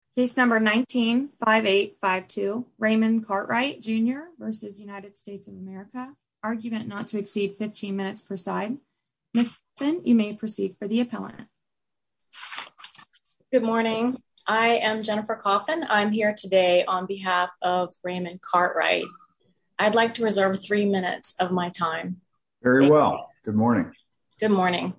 of America. Case number 195852 Raymond Cartwright Jr v. United States of America. Argument not to exceed 15 minutes per side. Ms. Simpson, you may proceed for the appellant. Good morning. I am Jennifer Coffin. I'm here today on behalf of Raymond Cartwright. I'd like to reserve three minutes of my time. Very well. Good morning. Good morning.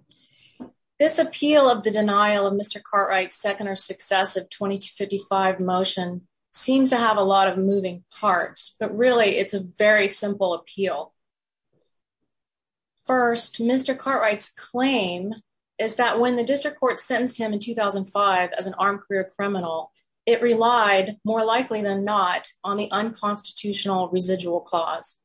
This appeal of the denial of Mr. Cartwright's second or successive 2255 motion seems to have a lot of moving parts, but really it's a very simple appeal. First, Mr. Cartwright's claim is that when the district court sentenced him in 2005 as an armed career criminal, it relied more likely than not on the unconstitutional residual clause.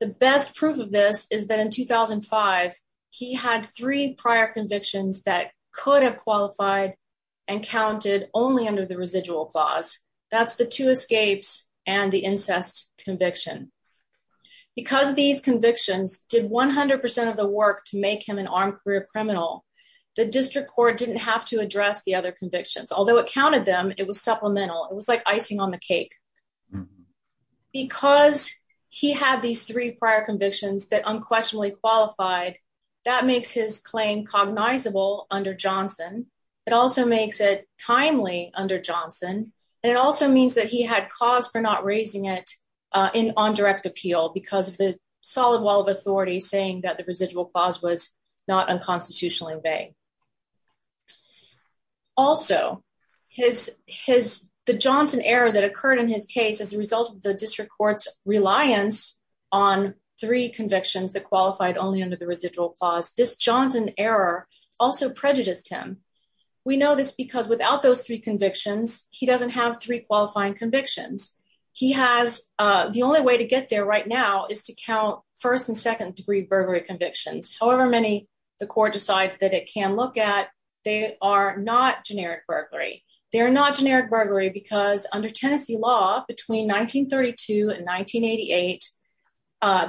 The best proof of this is that in 2005, he had three prior convictions that could have qualified and counted only under the residual clause. That's the two escapes and the incest conviction. Because these convictions did 100% of the work to make him an armed career criminal, the district court didn't have to address the other convictions, although it counted them, it was supplemental. It was like icing on the cake. Because he had these three prior convictions that unquestionably qualified, that makes his claim cognizable under Johnson. It also makes it timely under Johnson. And it also means that he had cause for not raising it on direct appeal because of the solid wall of authority saying that the residual clause was not unconstitutionally vague. Also, the Johnson error that occurred in his case as a result of the district court's reliance on three convictions that qualified only under the residual clause, this Johnson error also prejudiced him. We know this because without those three convictions, he doesn't have three qualifying convictions. He has the only way to get there right now is to count first and second degree burglary convictions. However many, the court decides that it can look at. They are not generic burglary. They're not generic burglary because under Tennessee law between 1932 and 1988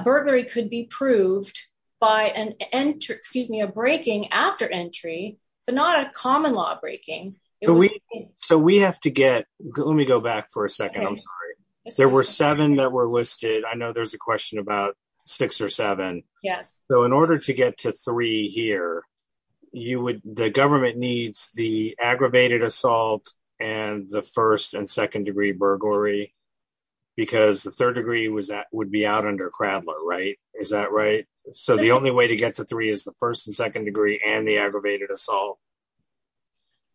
burglary could be proved by an end to excuse me a breaking after entry, but not a common law breaking. So we have to get, let me go back for a second. I'm sorry. There were seven that were listed. I know there's a question about six or seven. Yes. So in order to get to three here, you would, the government needs the aggravated assault, and the first and second degree burglary. Because the third degree was that would be out under Kradler right is that right. So the only way to get to three is the first and second degree and the aggravated assault.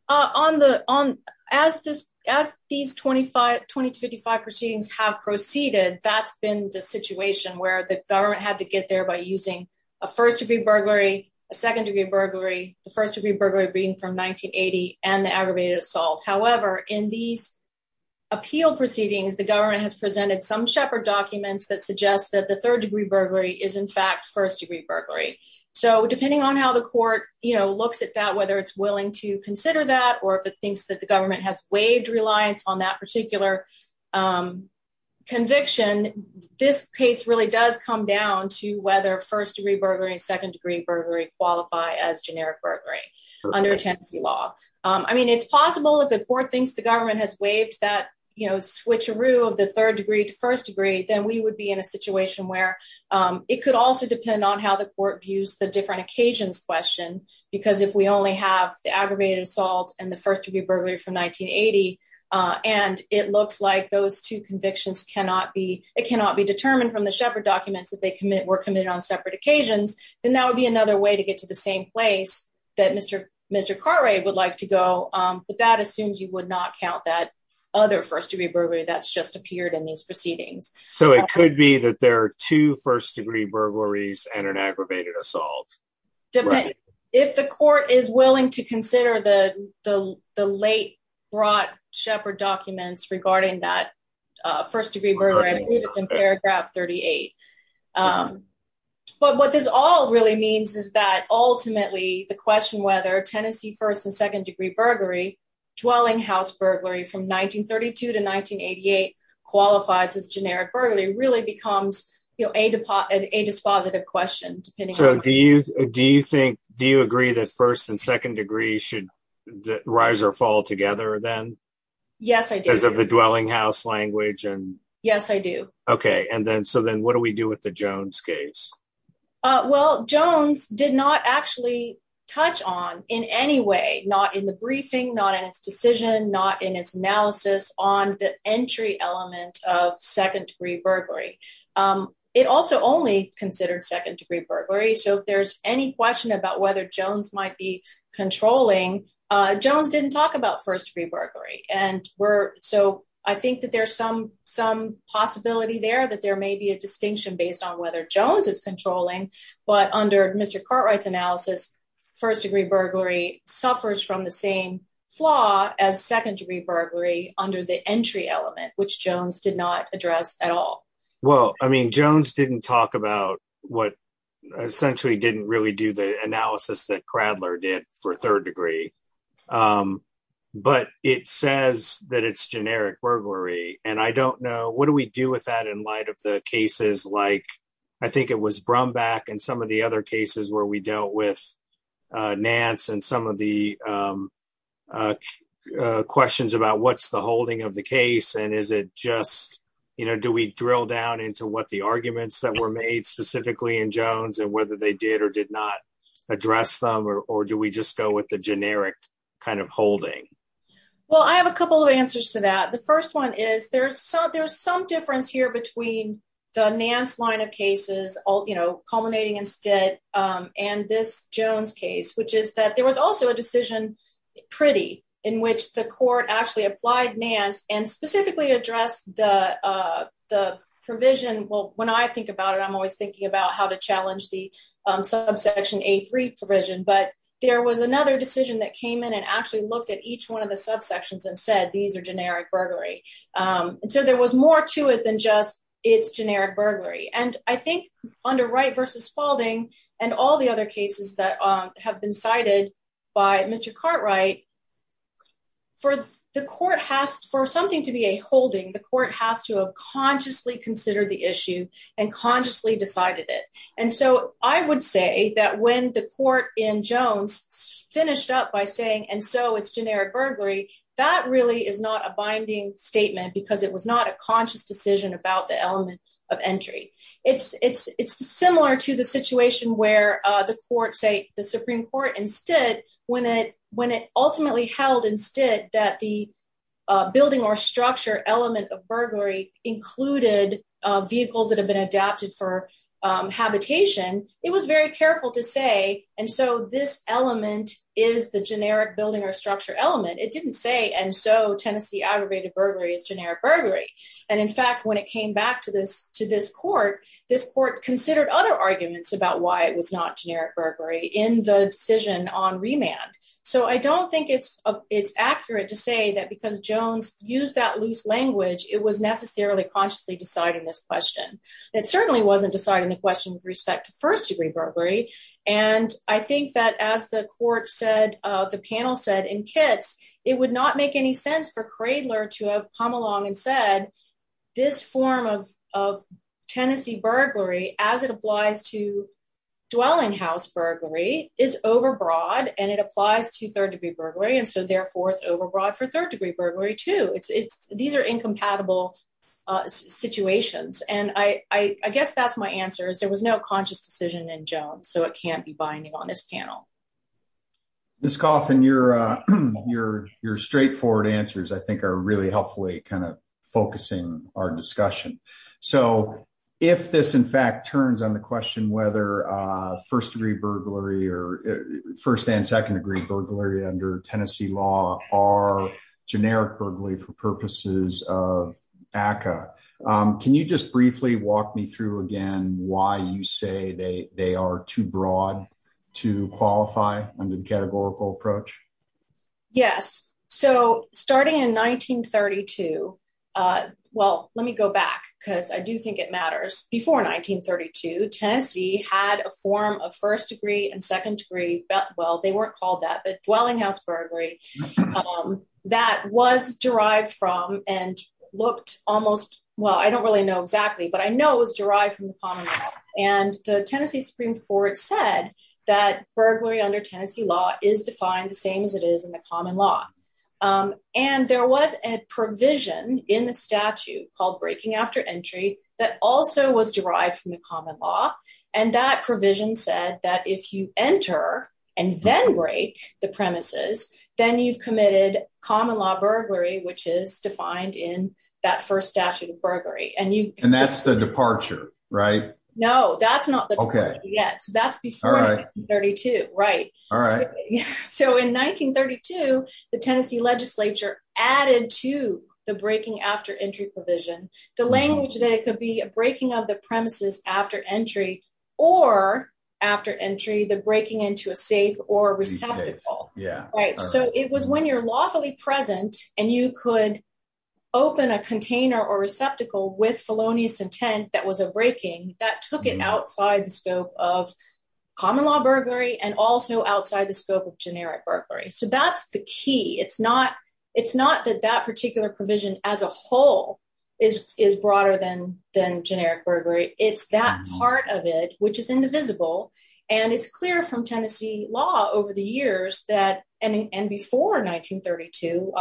So on the on as this as these 2520 to 55 proceedings have proceeded, that's been the situation where the government had to get there by using a first degree burglary, a second degree burglary, the first degree burglary being from 1980, and the aggravated assault. However, in these appeal proceedings, the government has presented some shepherd documents that suggests that the third degree burglary is in fact first degree burglary. So depending on how the court, you know, looks at that whether it's willing to consider that or if it thinks that the government has waived reliance on that particular conviction. This case really does come down to whether first degree burglary and second degree burglary qualify as generic burglary under Tennessee law. I mean it's possible if the court thinks the government has waived that, you know, switcheroo of the third degree to first degree, then we would be in a situation where it could also depend on how the court views the different occasions question, because if we only have the aggravated assault, and the first degree burglary from 1980. And it looks like those two convictions cannot be, it cannot be determined from the shepherd documents that they commit were committed on separate occasions, then that would be another way to get to the same place that Mr. Mr car rate would like to go. But that assumes you would not count that other first degree burglary that's just appeared in these proceedings. So it could be that there are two first degree burglaries and an aggravated assault. If the court is willing to consider the, the, the late brought shepherd documents regarding that first degree burglary paragraph 38. But what this all really means is that ultimately the question whether Tennessee first and second degree burglary dwelling house burglary from 1932 to 1988 qualifies as generic burglary really becomes a deposit a dispositive question. So do you, do you think, do you agree that first and second degree should rise or fall together then. Yes, I did as of the dwelling house language and yes I do. Okay. And then so then what do we do with the Jones case. Well, Jones did not actually touch on in any way, not in the briefing not in its decision not in its analysis on the entry element of second degree burglary. It also only considered second degree burglary so if there's any question about whether Jones might be controlling Jones didn't talk about first degree burglary, and we're so I think that there's some, some possibility there that there may be a distinction based on whether Jones is controlling, but under Mr cartwrights analysis, first degree burglary suffers from the same flaw as secondary burglary under the entry element which Jones did not address at all. Well, I mean Jones didn't talk about what essentially didn't really do the analysis that Cradler did for third degree. But it says that it's generic burglary, and I don't know what do we do with that in light of the cases like I think it was Brown back and some of the other cases where we dealt with Nance and some of the questions about what's the holding of the case and is it just, you know, do we drill down into what the arguments that were made specifically in Jones and whether they did or did not address them or do we just go with the generic kind of holding. Well, I have a couple of answers to that. The first one is there's some there's some difference here between the Nance line of cases, all you know, culminating instead, and this Jones case which is that there was also a decision. Pretty, in which the court actually applied Nance and specifically address the, the provision will when I think about it I'm always thinking about how to challenge the subsection a three provision but there was another decision that came in and actually looked at each one of the subsections and said these are generic burglary. So there was more to it than just, it's generic burglary and I think under right versus Spaulding, and all the other cases that have been cited by Mr Cartwright for the court has for something to be a holding the court has to have consciously consider the issue and it. And so I would say that when the court in Jones finished up by saying and so it's generic burglary, that really is not a binding statement because it was not a conscious decision about the element of entry, it's, it's, it's similar to the situation where the court say the Supreme Court instead, when it when it ultimately held instead that the building or structure element of burglary included vehicles that have been adapted for habitation, it was very careful to say, and so this element is the generic about why it was not generic burglary in the decision on remand. So I don't think it's, it's accurate to say that because Jones, use that loose language, it was necessarily consciously deciding this question. It certainly wasn't deciding the question with respect to first degree burglary. And I think that as the court said, the panel said in kits, it would not make any sense for cradler to have come along and said, this form of Tennessee burglary, as it applies to dwelling is overbroad, and it applies to third degree burglary. And so therefore, it's overbroad for third degree burglary to it's, it's, these are incompatible situations. And I guess that's my answer is there was no conscious decision in Jones, so it can't be binding on this panel. This coffin, your, your, your straightforward answers I think are really helpfully kind of focusing our discussion. So, if this in fact turns on the question whether first degree burglary or first and second degree burglary under Tennessee law are generic burglary for purposes of ACA. Can you just briefly walk me through again why you say they, they are too broad to qualify under the categorical approach. Yes. So, starting in 1932. Well, let me go back, because I do think it matters before 1932 Tennessee had a form of first degree and second degree, but well they weren't called that but dwelling house burglary. That was derived from and looked almost well I don't really know exactly but I know it was derived from the common law, and the Tennessee Supreme Court said that burglary under Tennessee law is defined the same as it is in the common law. And there was a provision in the statute called breaking after entry, that also was derived from the common law, and that provision said that if you enter, and then break the premises, then you've committed common law burglary which is defined in that first statute of burglary and you, and that's the departure. Right. No, that's not the okay yeah so that's before I 32. Right. All right. So in 1932, the Tennessee legislature, added to the breaking after entry provision, the language that it could be a breaking of the premises, after entry, or after entry the breaking into a safe or receptive. Yeah, right. So it was when you're lawfully present, and you could open a container or receptacle with felonious intent that was a breaking that took it outside the scope of common law burglary and also outside the scope of generic burglary so that's the key and before 1932,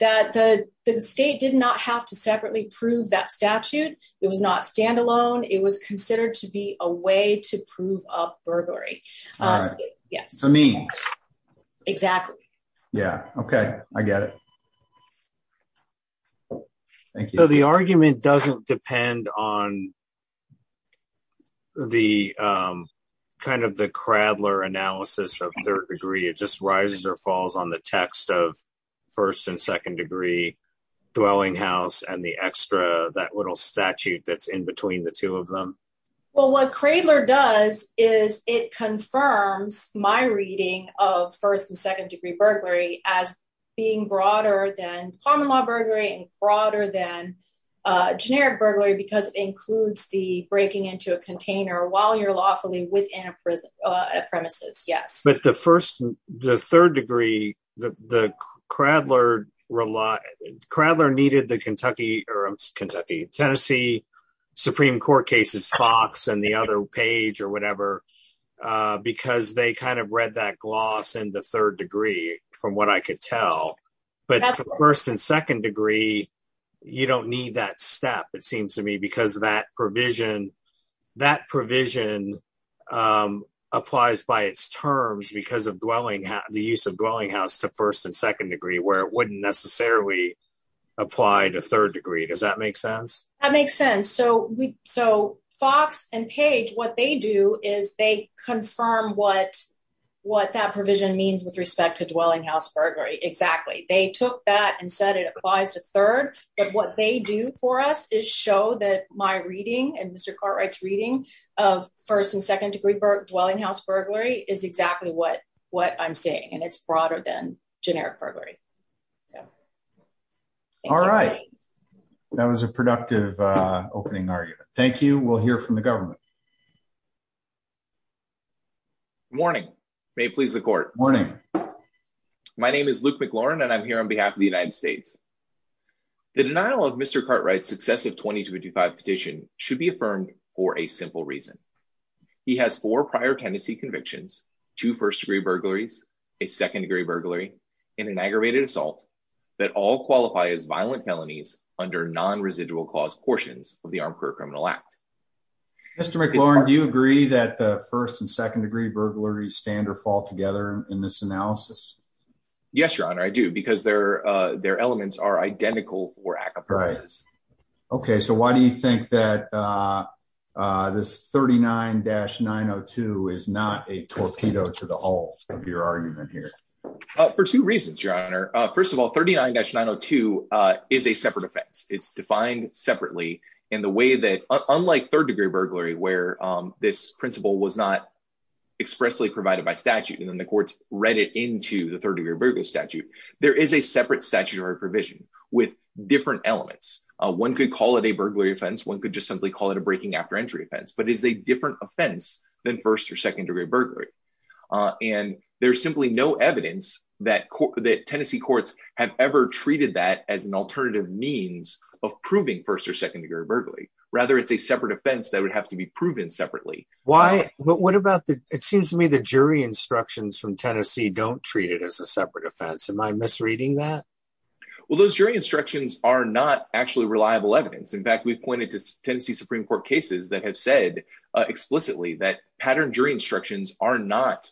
that the state did not have to separately prove that statute. It was not standalone, it was considered to be a way to prove up burglary. Yes, I mean, exactly. Yeah. Okay, I get it. So the argument doesn't depend on the kind of the cradler analysis of third degree it just rises or falls on the text of first and second degree dwelling house and the extra that little statute that's in between the two of them. Well what cradler does is it confirms my reading of first and second degree burglary as being broader than common law burglary and broader than generic burglary because it includes the breaking into a container while you're lawfully within a prison premises. Yes, but the first, the third degree, the cradler rely cradler needed the Kentucky, Kentucky, Tennessee Supreme Court cases Fox and the other page or whatever, because they kind of read that gloss and the third degree, from what I could tell, but first and second degree. You don't need that step, it seems to me because that provision that provision applies by its terms because of dwelling the use of dwelling house to first and second degree where it wouldn't necessarily apply to third degree does that make sense. That makes sense so we so Fox and page what they do is they confirm what what that provision means with respect to dwelling house burglary exactly they took that and said it applies to third, but what they do for us is show that my reading and Mr. Cartwright's reading of first and second degree burg dwelling house burglary is exactly what what I'm saying and it's broader than generic burglary. So, all right. That was a productive opening argument. Thank you. We'll hear from the government. Morning, may please the court morning. My name is Luke McLaurin and I'm here on behalf of the United States. The denial of Mr. Cartwright successive 2025 petition should be affirmed for a simple reason. He has four prior tenancy convictions to first degree burglaries, a second degree burglary in an aggravated assault that all qualify as violent felonies under non residual cause portions of the armed criminal act. Mr McLaurin do you agree that the first and second degree burglaries stand or fall together in this analysis. Yes, your honor I do because they're, they're elements are identical. Right. Okay, so why do you think that this 39 dash 902 is not a torpedo to the whole of your argument here for two reasons your honor. First of all, 39 dash 902 is a separate offense, it's defined separately in the way that, unlike third degree burglary where this principle was not expressly provided by statute and then the courts read it into the third degree burglary statute. There is a separate statutory provision with different elements. One could call it a burglary offense one could just simply call it a breaking after entry offense but is a different offense than first or second degree burglary. And there's simply no evidence that that Tennessee courts have ever treated that as an alternative means of proving first or second degree burglary, rather it's a separate offense that would have to be proven separately. Why, what about the, it seems to me the jury instructions from Tennessee don't treat it as a separate offense am I misreading that. Well those jury instructions are not actually reliable evidence in fact we've pointed to Tennessee Supreme Court cases that have said explicitly that pattern jury instructions are not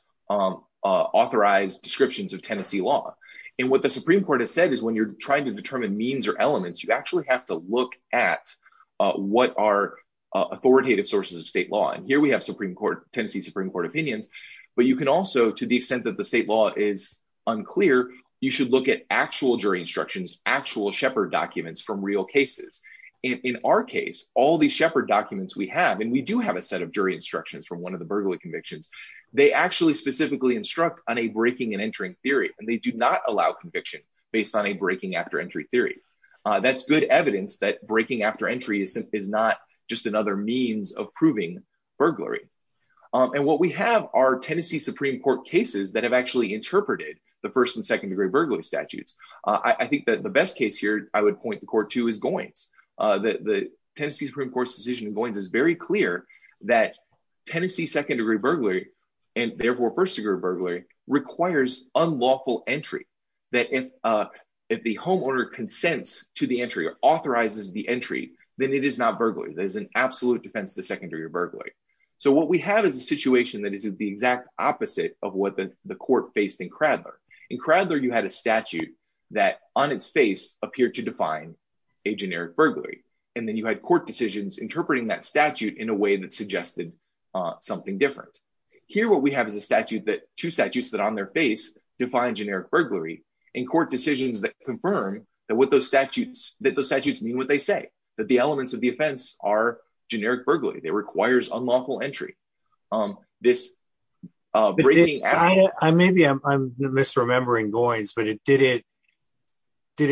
authorized descriptions of Tennessee law. And what the Supreme Court has said is when you're trying to determine means or elements you actually have to look at what are authoritative sources of state law and here we have Supreme Court Tennessee Supreme Court opinions, but you can also to the extent that the state law is unclear, you should look at actual jury instructions actual shepherd documents from real cases. In our case, all the shepherd documents we have and we do have a set of jury instructions from one of the burglary convictions. They actually specifically instruct on a breaking and entering theory, and they do not allow conviction, based on a breaking after entry theory. That's good evidence that breaking after entry is not just another means of proving burglary. And what we have our Tennessee Supreme Court cases that have actually interpreted the first and second degree burglary statutes. I think that the best case here, I would point the court to is going to the Tennessee Supreme Court's decision going is very clear that Tennessee defends to the entry authorizes the entry, then it is not burglary there's an absolute defense the secondary burglary. So what we have is a situation that is the exact opposite of what the court based in Kradler in Kradler you had a statute that on its face appeared to define a generic burglary, and then you had court decisions interpreting that statute in a way that suggested something different. Here what we have is a statute that two statutes that on their face defined generic burglary in court decisions that confirm that what those did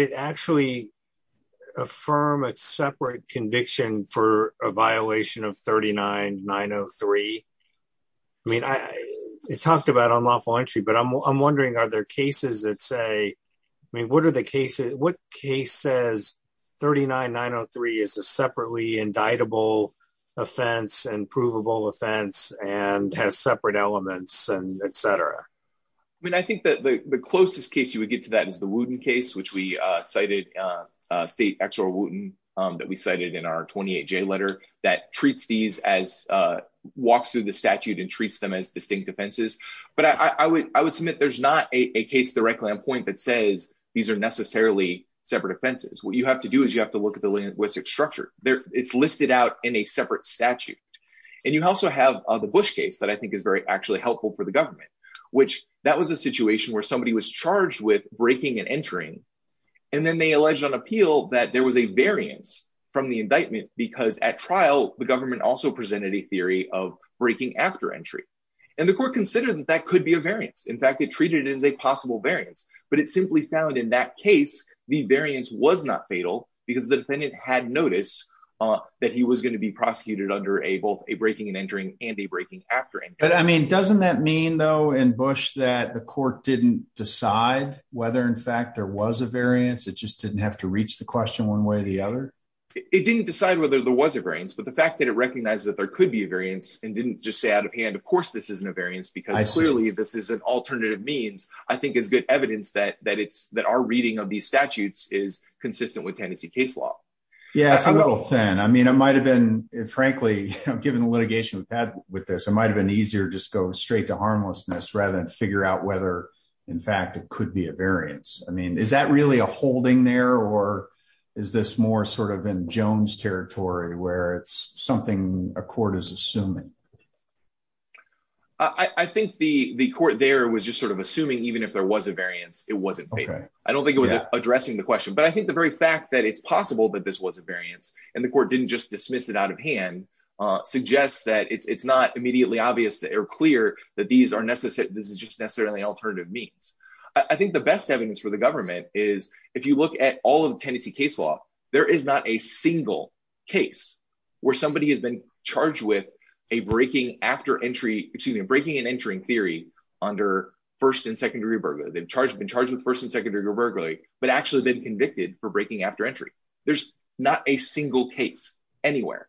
it actually affirm it separate conviction for a violation of 39903. I mean I talked about on lawful entry but I'm wondering are there cases that say, I mean what are the cases, what case says 39903 is a separately indictable offense and provable offense and has separate elements and etc. I mean I think that the closest case you would get to that is the wooden case which we cited state X or wooden that we cited in our 28 J letter that treats these as walks through the statute and treats them as distinct defenses, but I would, I would submit there's not a case directly on point that says, these are necessarily separate offenses what you have to do is you have to look at the linguistic structure there, it's listed out in a separate statute. And you also have the Bush case that I think is very actually helpful for the government, which that was a situation where somebody was charged with breaking and entering. And then they alleged on appeal that there was a variance from the indictment, because at trial, the government also presented a theory of breaking after entry. And the court considered that that could be a variance in fact it treated as a possible variance, but it simply found in that case, the variance was not fatal, because the defendant had noticed that he was going to be prosecuted under a both a breaking and entering and a breaking after. But I mean, doesn't that mean though and Bush that the court didn't decide whether in fact there was a variance it just didn't have to reach the question one way or the other. It didn't decide whether there was a variance but the fact that it recognized that there could be a variance and didn't just say out of hand of course this isn't a variance because I clearly this is an alternative means, I think is good evidence that that it's that our reading of these statutes is consistent with Tennessee case law. Yeah, it's a little thin I mean it might have been, frankly, given the litigation with that with this it might have been easier just go straight to harmlessness rather than figure out whether in fact it could be a variance. I mean, is that really a holding there or is this more sort of in Jones territory where it's something a court is assuming. I think the the court there was just sort of assuming even if there was a variance, it wasn't. I don't think it was addressing the question but I think the very fact that it's possible that this was a variance, and the court didn't just dismiss it out of hand suggests that it's not immediately obvious that are clear that these are necessary. This is just necessarily alternative means, I think the best evidence for the government is, if you look at all of Tennessee case law, there is not a single case where somebody in Tennessee has been charged with a breaking after entry between breaking and entering theory under first and secondary burger they've charged been charged with first and secondary verbally, but actually been convicted for breaking after entry. There's not a single case anywhere.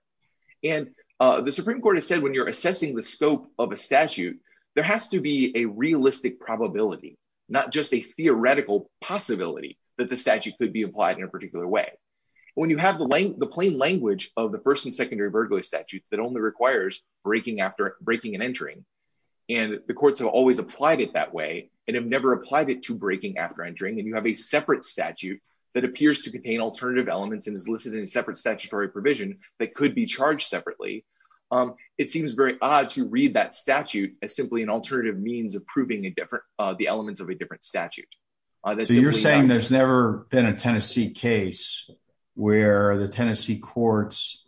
And the Supreme Court has said when you're assessing the scope of a statute. There has to be a realistic probability, not just a theoretical possibility that the statute could be applied in a particular way. When you have the length the plain language of the first and secondary burglary statutes that only requires breaking after breaking and entering. And the courts have always applied it that way, and have never applied it to breaking after entering and you have a separate statute that appears to contain alternative elements and is listed in a separate statutory provision that could be charged separately. It seems very odd to read that statute as simply an alternative means of proving a different the elements of a different statute. So you're saying there's never been a Tennessee case where the Tennessee courts.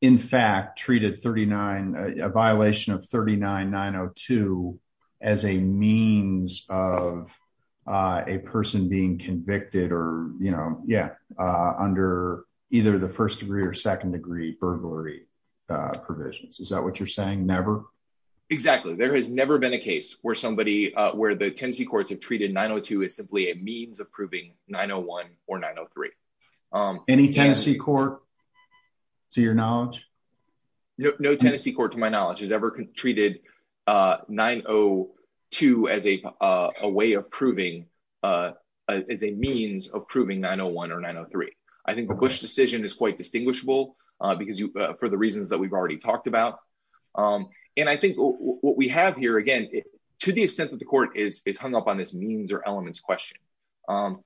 In fact, treated 39, a violation of 39 902 as a means of a person being convicted or, you know, yeah. Under either the first degree or second degree burglary provisions is that what you're saying never. Exactly. There has never been a case where somebody where the Tennessee courts have treated 902 is simply a means of proving 901 or 903 any Tennessee court, to your knowledge, no Tennessee court to my knowledge has ever treated 902 as a way of proving as a means of proving 901 or 903. I think the Bush decision is quite distinguishable because you for the reasons that we've already talked about. And I think what we have here again, to the extent that the court is is hung up on this means or elements question. And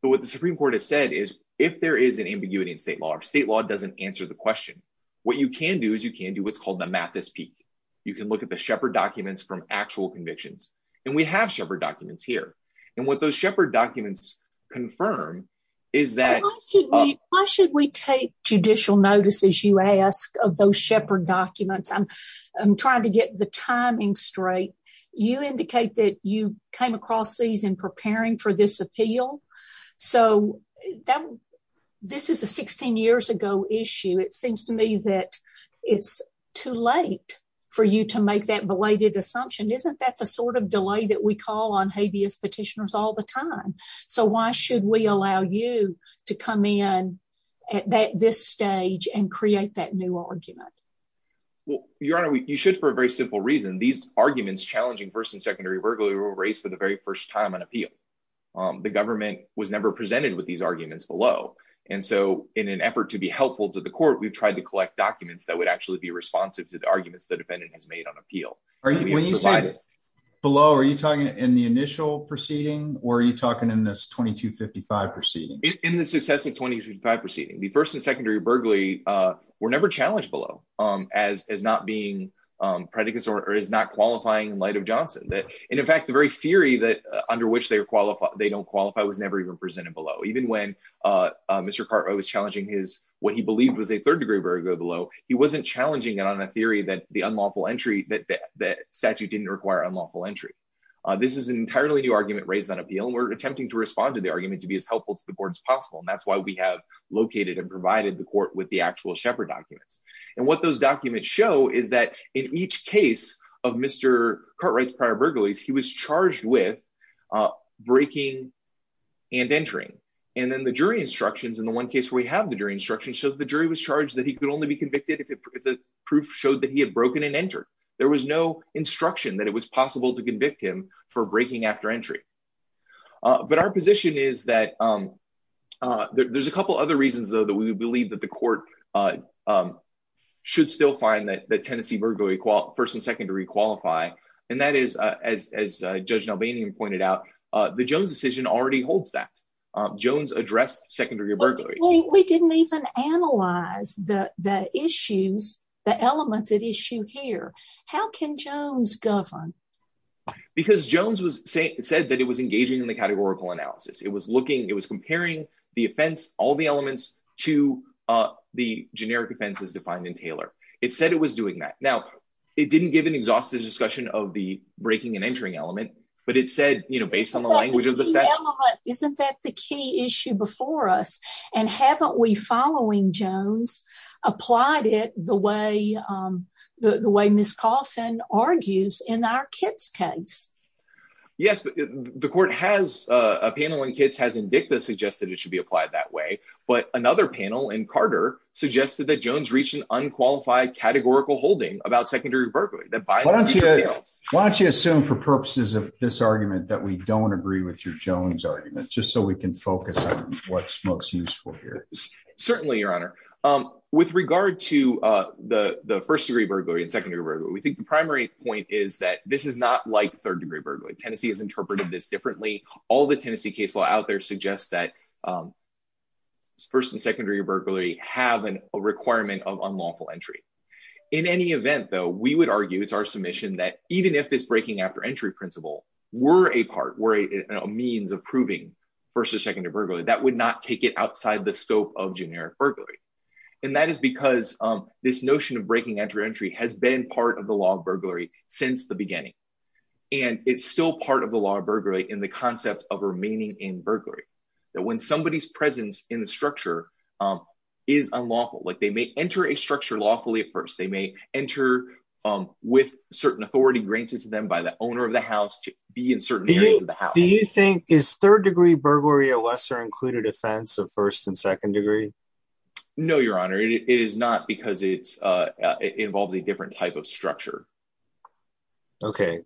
what the Supreme Court has said is, if there is an ambiguity in state law state law doesn't answer the question. What you can do is you can do what's called the math this peak, you can look at the shepherd documents from actual convictions, and we have shepherd documents here. And what those shepherd documents confirm is that Why should we take judicial notices you ask of those shepherd documents I'm, I'm trying to get the timing straight, you indicate that you came across these in preparing for this appeal. So, this is a 16 years ago issue it seems to me that it's too late for you to make that belated assumption isn't that the sort of delay that we call on habeas petitioners all the time. So why should we allow you to come in at this stage and create that new argument. Well, your honor, you should for a very simple reason these arguments challenging first and secondary burglary were raised for the very first time on appeal. The government was never presented with these arguments below. And so, in an effort to be helpful to the court we've tried to collect documents that would actually be responsive to the arguments the defendant has made on appeal. Below are you talking in the initial proceeding, or are you talking in this 2255 proceeding in the success of 2025 proceeding the first and secondary burglary were never challenged below as as not being predicates or is not qualifying light of Johnson that, in fact, the very theory that under which they are qualified, they don't qualify was never even presented below even when Mr Carter was challenging his what he believed was a third degree very good below. He wasn't challenging it on a theory that the unlawful entry that that statute didn't require unlawful entry. This is an entirely new argument raised on appeal and we're attempting to respond to the argument to be as helpful to the board as possible and that's why we have located and provided the court with the actual shepherd documents. And what those documents show is that in each case of Mr cartwrights prior burglaries he was charged with breaking and entering. And then the jury instructions in the one case we have the jury instruction so the jury was charged that he could only be convicted if the proof showed that he had broken and enter. There was no instruction that it was possible to convict him for breaking after entry. But our position is that there's a couple other reasons, though, that we believe that the court should still find that the Tennessee burglary first and secondary qualify. And that is, as Judge Albanian pointed out, the Jones decision already holds that Jones addressed secondary or burglary. We didn't even analyze the issues, the elements at issue here. How can Jones govern. Because Jones was saying it said that it was engaging in the categorical analysis, it was looking, it was comparing the offense, all the elements to the generic offenses defined in Taylor, it said it was doing that. Now, it didn't give an exhaustive discussion of the breaking and entering element, but it said, you know, based on the language of the set. Isn't that the key issue before us. And haven't we following Jones applied it the way the way Miss coffin argues in our kids case. Yes, the court has a panel and kids has indicted suggested it should be applied that way. But another panel and Carter suggested that Jones reach an unqualified categorical holding about secondary burglary that by Why don't you assume for purposes of this argument that we don't agree with your Jones argument, just so we can focus on what's most useful here. Certainly, Your Honor. With regard to the first degree burglary and secondary where we think the primary point is that this is not like third degree burglary Tennessee has interpreted this differently. All the Tennessee case law out there suggests that First and secondary burglary have an requirement of unlawful entry. In any event, though, we would argue it's our submission that even if it's breaking after entry principle were a part were a means of proving first or second to burglary that would not take it outside the scope of generic burglary. And that is because this notion of breaking entry entry has been part of the law of burglary since the beginning. And it's still part of the law burglary in the concept of remaining in burglary that when somebody's presence in the structure. Is unlawful like they may enter a structure lawfully at first, they may enter with certain authority granted to them by the owner of the house to be in certain areas of the house. Do you think is third degree burglary a lesser included offense of first and second degree. No, Your Honor. It is not because it's involves a different type of structure. Okay.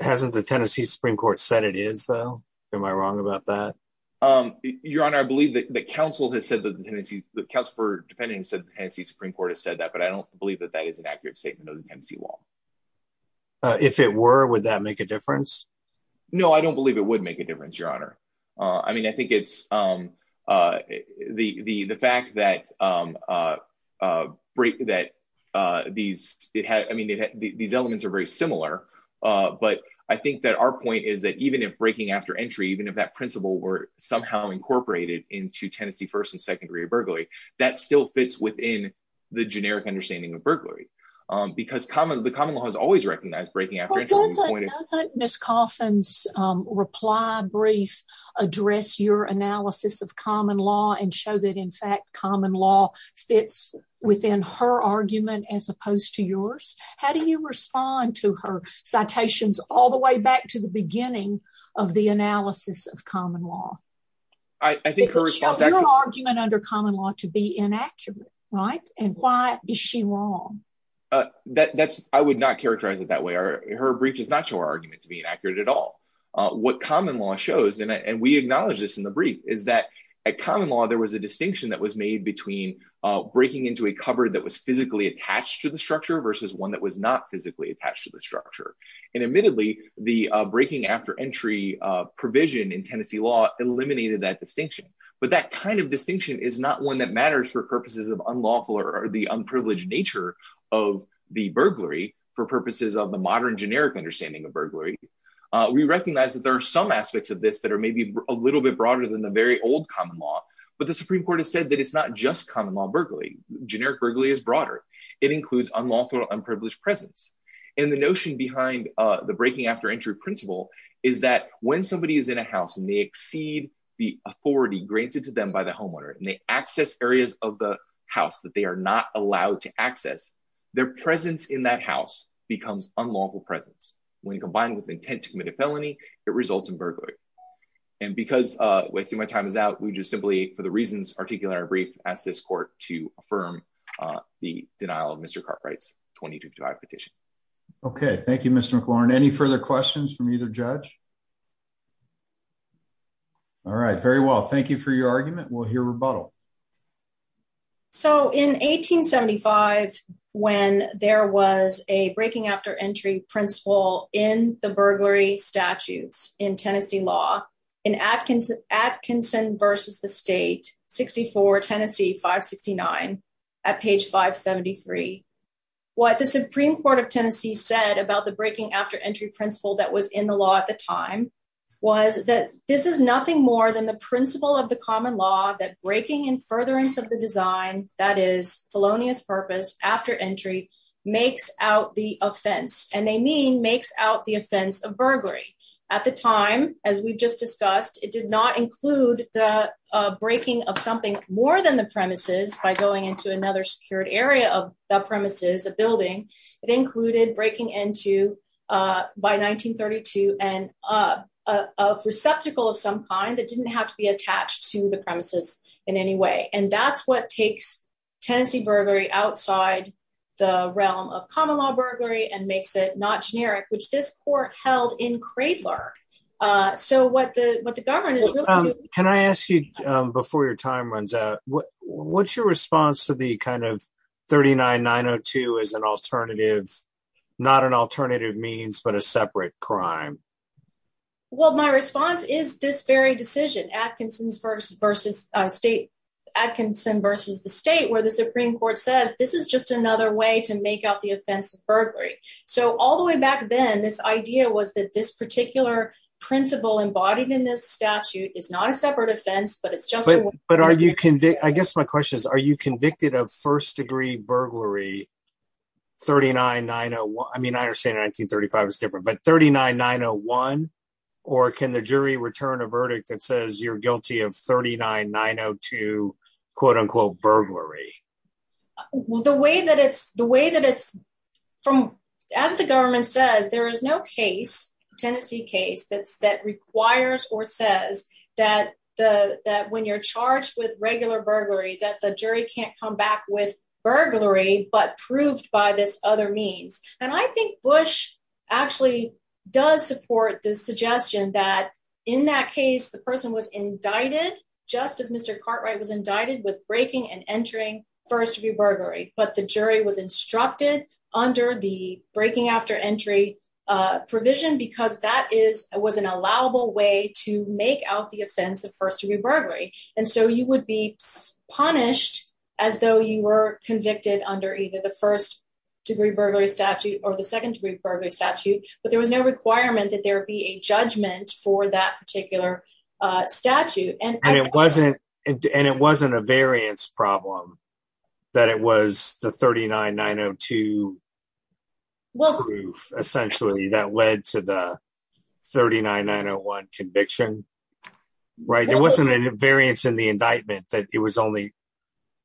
Hasn't the Tennessee Supreme Court said it is, though, am I wrong about that. Your Honor, I believe that the council has said that the Tennessee Council for defending said the Tennessee Supreme Court has said that but I don't believe that that is an accurate statement of the Tennessee law. If it were, would that make a difference. No, I don't believe it would make a difference, Your Honor. I mean I think it's the the the fact that break that these, it had I mean these elements are very similar. But I think that our point is that even if breaking after entry even if that principle were somehow incorporated into Tennessee first and second degree burglary that still fits within the generic understanding of burglary, because common the common law has always recognized breaking. Miss coffins reply brief address your analysis of common law and show that in fact common law fits within her argument as opposed to yours. How do you respond to her citations, all the way back to the beginning of the analysis of common law. I think her argument under common law to be inaccurate. Right. And why is she wrong. That's, I would not characterize it that way or her brief does not show argument to be inaccurate at all. What common law shows and we acknowledge this in the brief is that a common law there was a distinction that was made between breaking into a cupboard that was physically attached to the structure versus one that was not physically attached to the structure, and admittedly, the breaking after entry provision in Tennessee law eliminated that distinction, but that kind of distinction is not one that matters for purposes of unlawful or the unprivileged nature of the burglary for purposes of the modern generic understanding of burglary. We recognize that there are some aspects of this that are maybe a little bit broader than the very old common law, but the Supreme Court has said that it's not just common law burglary generic burglary is broader. It includes unlawful unprivileged presence in the notion behind the breaking after entry principle is that when somebody is in a house and they exceed the authority granted to them by the homeowner and they access areas of the house that they are not allowed to access their presence in that house becomes unlawful presence. When combined with intent to commit a felony, it results in burglary. And because we see my time is out, we just simply for the reasons articulate our brief as this court to affirm the denial of Mr. Cartwright's 22 to petition. Okay, thank you, Mr. McLaurin any further questions from either judge. All right, very well thank you for your argument will hear rebuttal. So in 1875, when there was a breaking after entry principle in the burglary statutes in Tennessee law in Atkins Atkinson versus the state 64 Tennessee 569 at page 573. What the Supreme Court of Tennessee said about the breaking after entry principle that was in the law at the time was that this is nothing more than the principle of the common law that breaking and furtherance of the design that is felonious purpose after entry makes out the offense, and they mean makes out the offense of burglary. At the time, as we've just discussed, it did not include the breaking of something more than the premises by going into another secured area of the premises a building. It included breaking into by 1932, and a receptacle of some kind that didn't have to be attached to the premises in any way and that's what takes Tennessee burglary outside the realm of common law burglary and makes it not generic which this court not an alternative means but a separate crime. Well, my response is this very decision Atkinson's versus versus state Atkinson versus the state where the Supreme Court says this is just another way to make out the offensive burglary. So all the way back then this idea was that this particular principle embodied in this statute is not a separate offense but it's just but are you can I guess my question is, are you convicted of first degree burglary 39901 I mean I understand 1935 is different but 39901, or can the jury return a verdict that says you're guilty of 39902, quote unquote burglary. Well, the way that it's the way that it's from, as the government says there is no case, Tennessee case that's that requires or says that the, that when you're charged with regular burglary that the jury can't come back with burglary but proved by this other means, and I think Bush actually does support the suggestion that in that case the person was indicted, just as Mr Cartwright was indicted with breaking and entering first degree burglary, but the jury was instructed under the breaking after entry provision because that is was an allowable way to make out the offensive first degree burglary, and so you would be punished as though you were convicted under either the first degree burglary statute or the second degree burglary statute, but there was no requirement that there be a judgment for that particular statute and it wasn't. And it wasn't a variance problem that it was the 39902 essentially that led to the 39901 conviction. Right, it wasn't a variance in the indictment that it was only.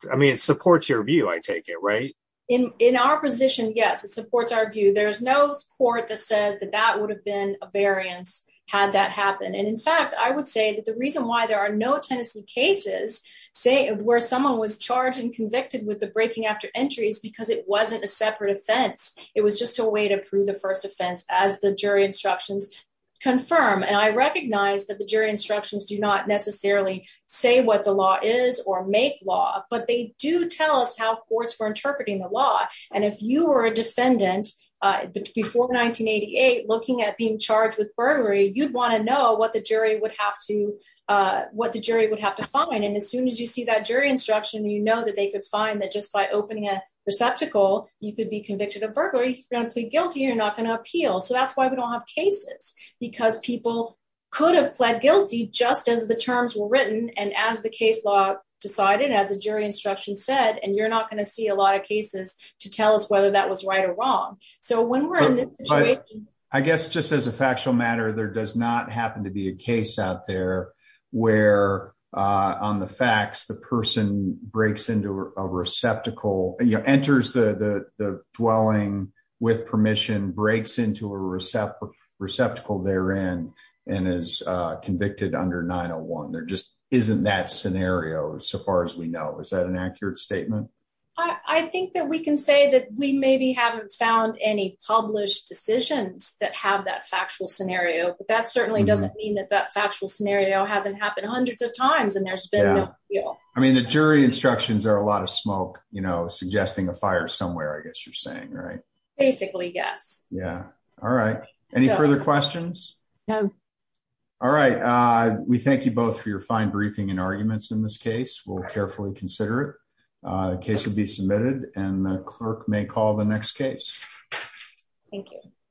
I mean it supports your view I take it right in, in our position yes it supports our view there's no court that says that that would have been a variance, had that happen and in fact I would say that the reason why there are no Tennessee cases, say, where someone was charged and convicted with the breaking after entries because it wasn't a separate offense. It was just a way to prove the first offense, as the jury instructions confirm and I recognize that the jury instructions do not necessarily say what the law is or make out of the law, but they do tell us how courts were interpreting the law. And if you were a defendant before 1988 looking at being charged with burglary you'd want to know what the jury would have to what the jury would have to find and as soon as you see that as a jury instruction said and you're not going to see a lot of cases to tell us whether that was right or wrong. So when we're in, I guess just as a factual matter there does not happen to be a case out there, where on the facts the person breaks into a receptacle you know enters the dwelling with permission breaks into a receptacle receptacle there and, and is convicted under 901 there just isn't that scenario so far as we know is that an accurate statement. I think that we can say that we maybe haven't found any published decisions that have that factual scenario, but that certainly doesn't mean that that factual scenario hasn't happened hundreds of times and there's been. I mean the jury instructions are a lot of smoke, you know, suggesting a fire somewhere I guess you're saying right. Basically, yes. Yeah. All right. Any further questions. All right. We thank you both for your fine briefing and arguments in this case will carefully consider case will be submitted and the clerk may call the next case. Thank you.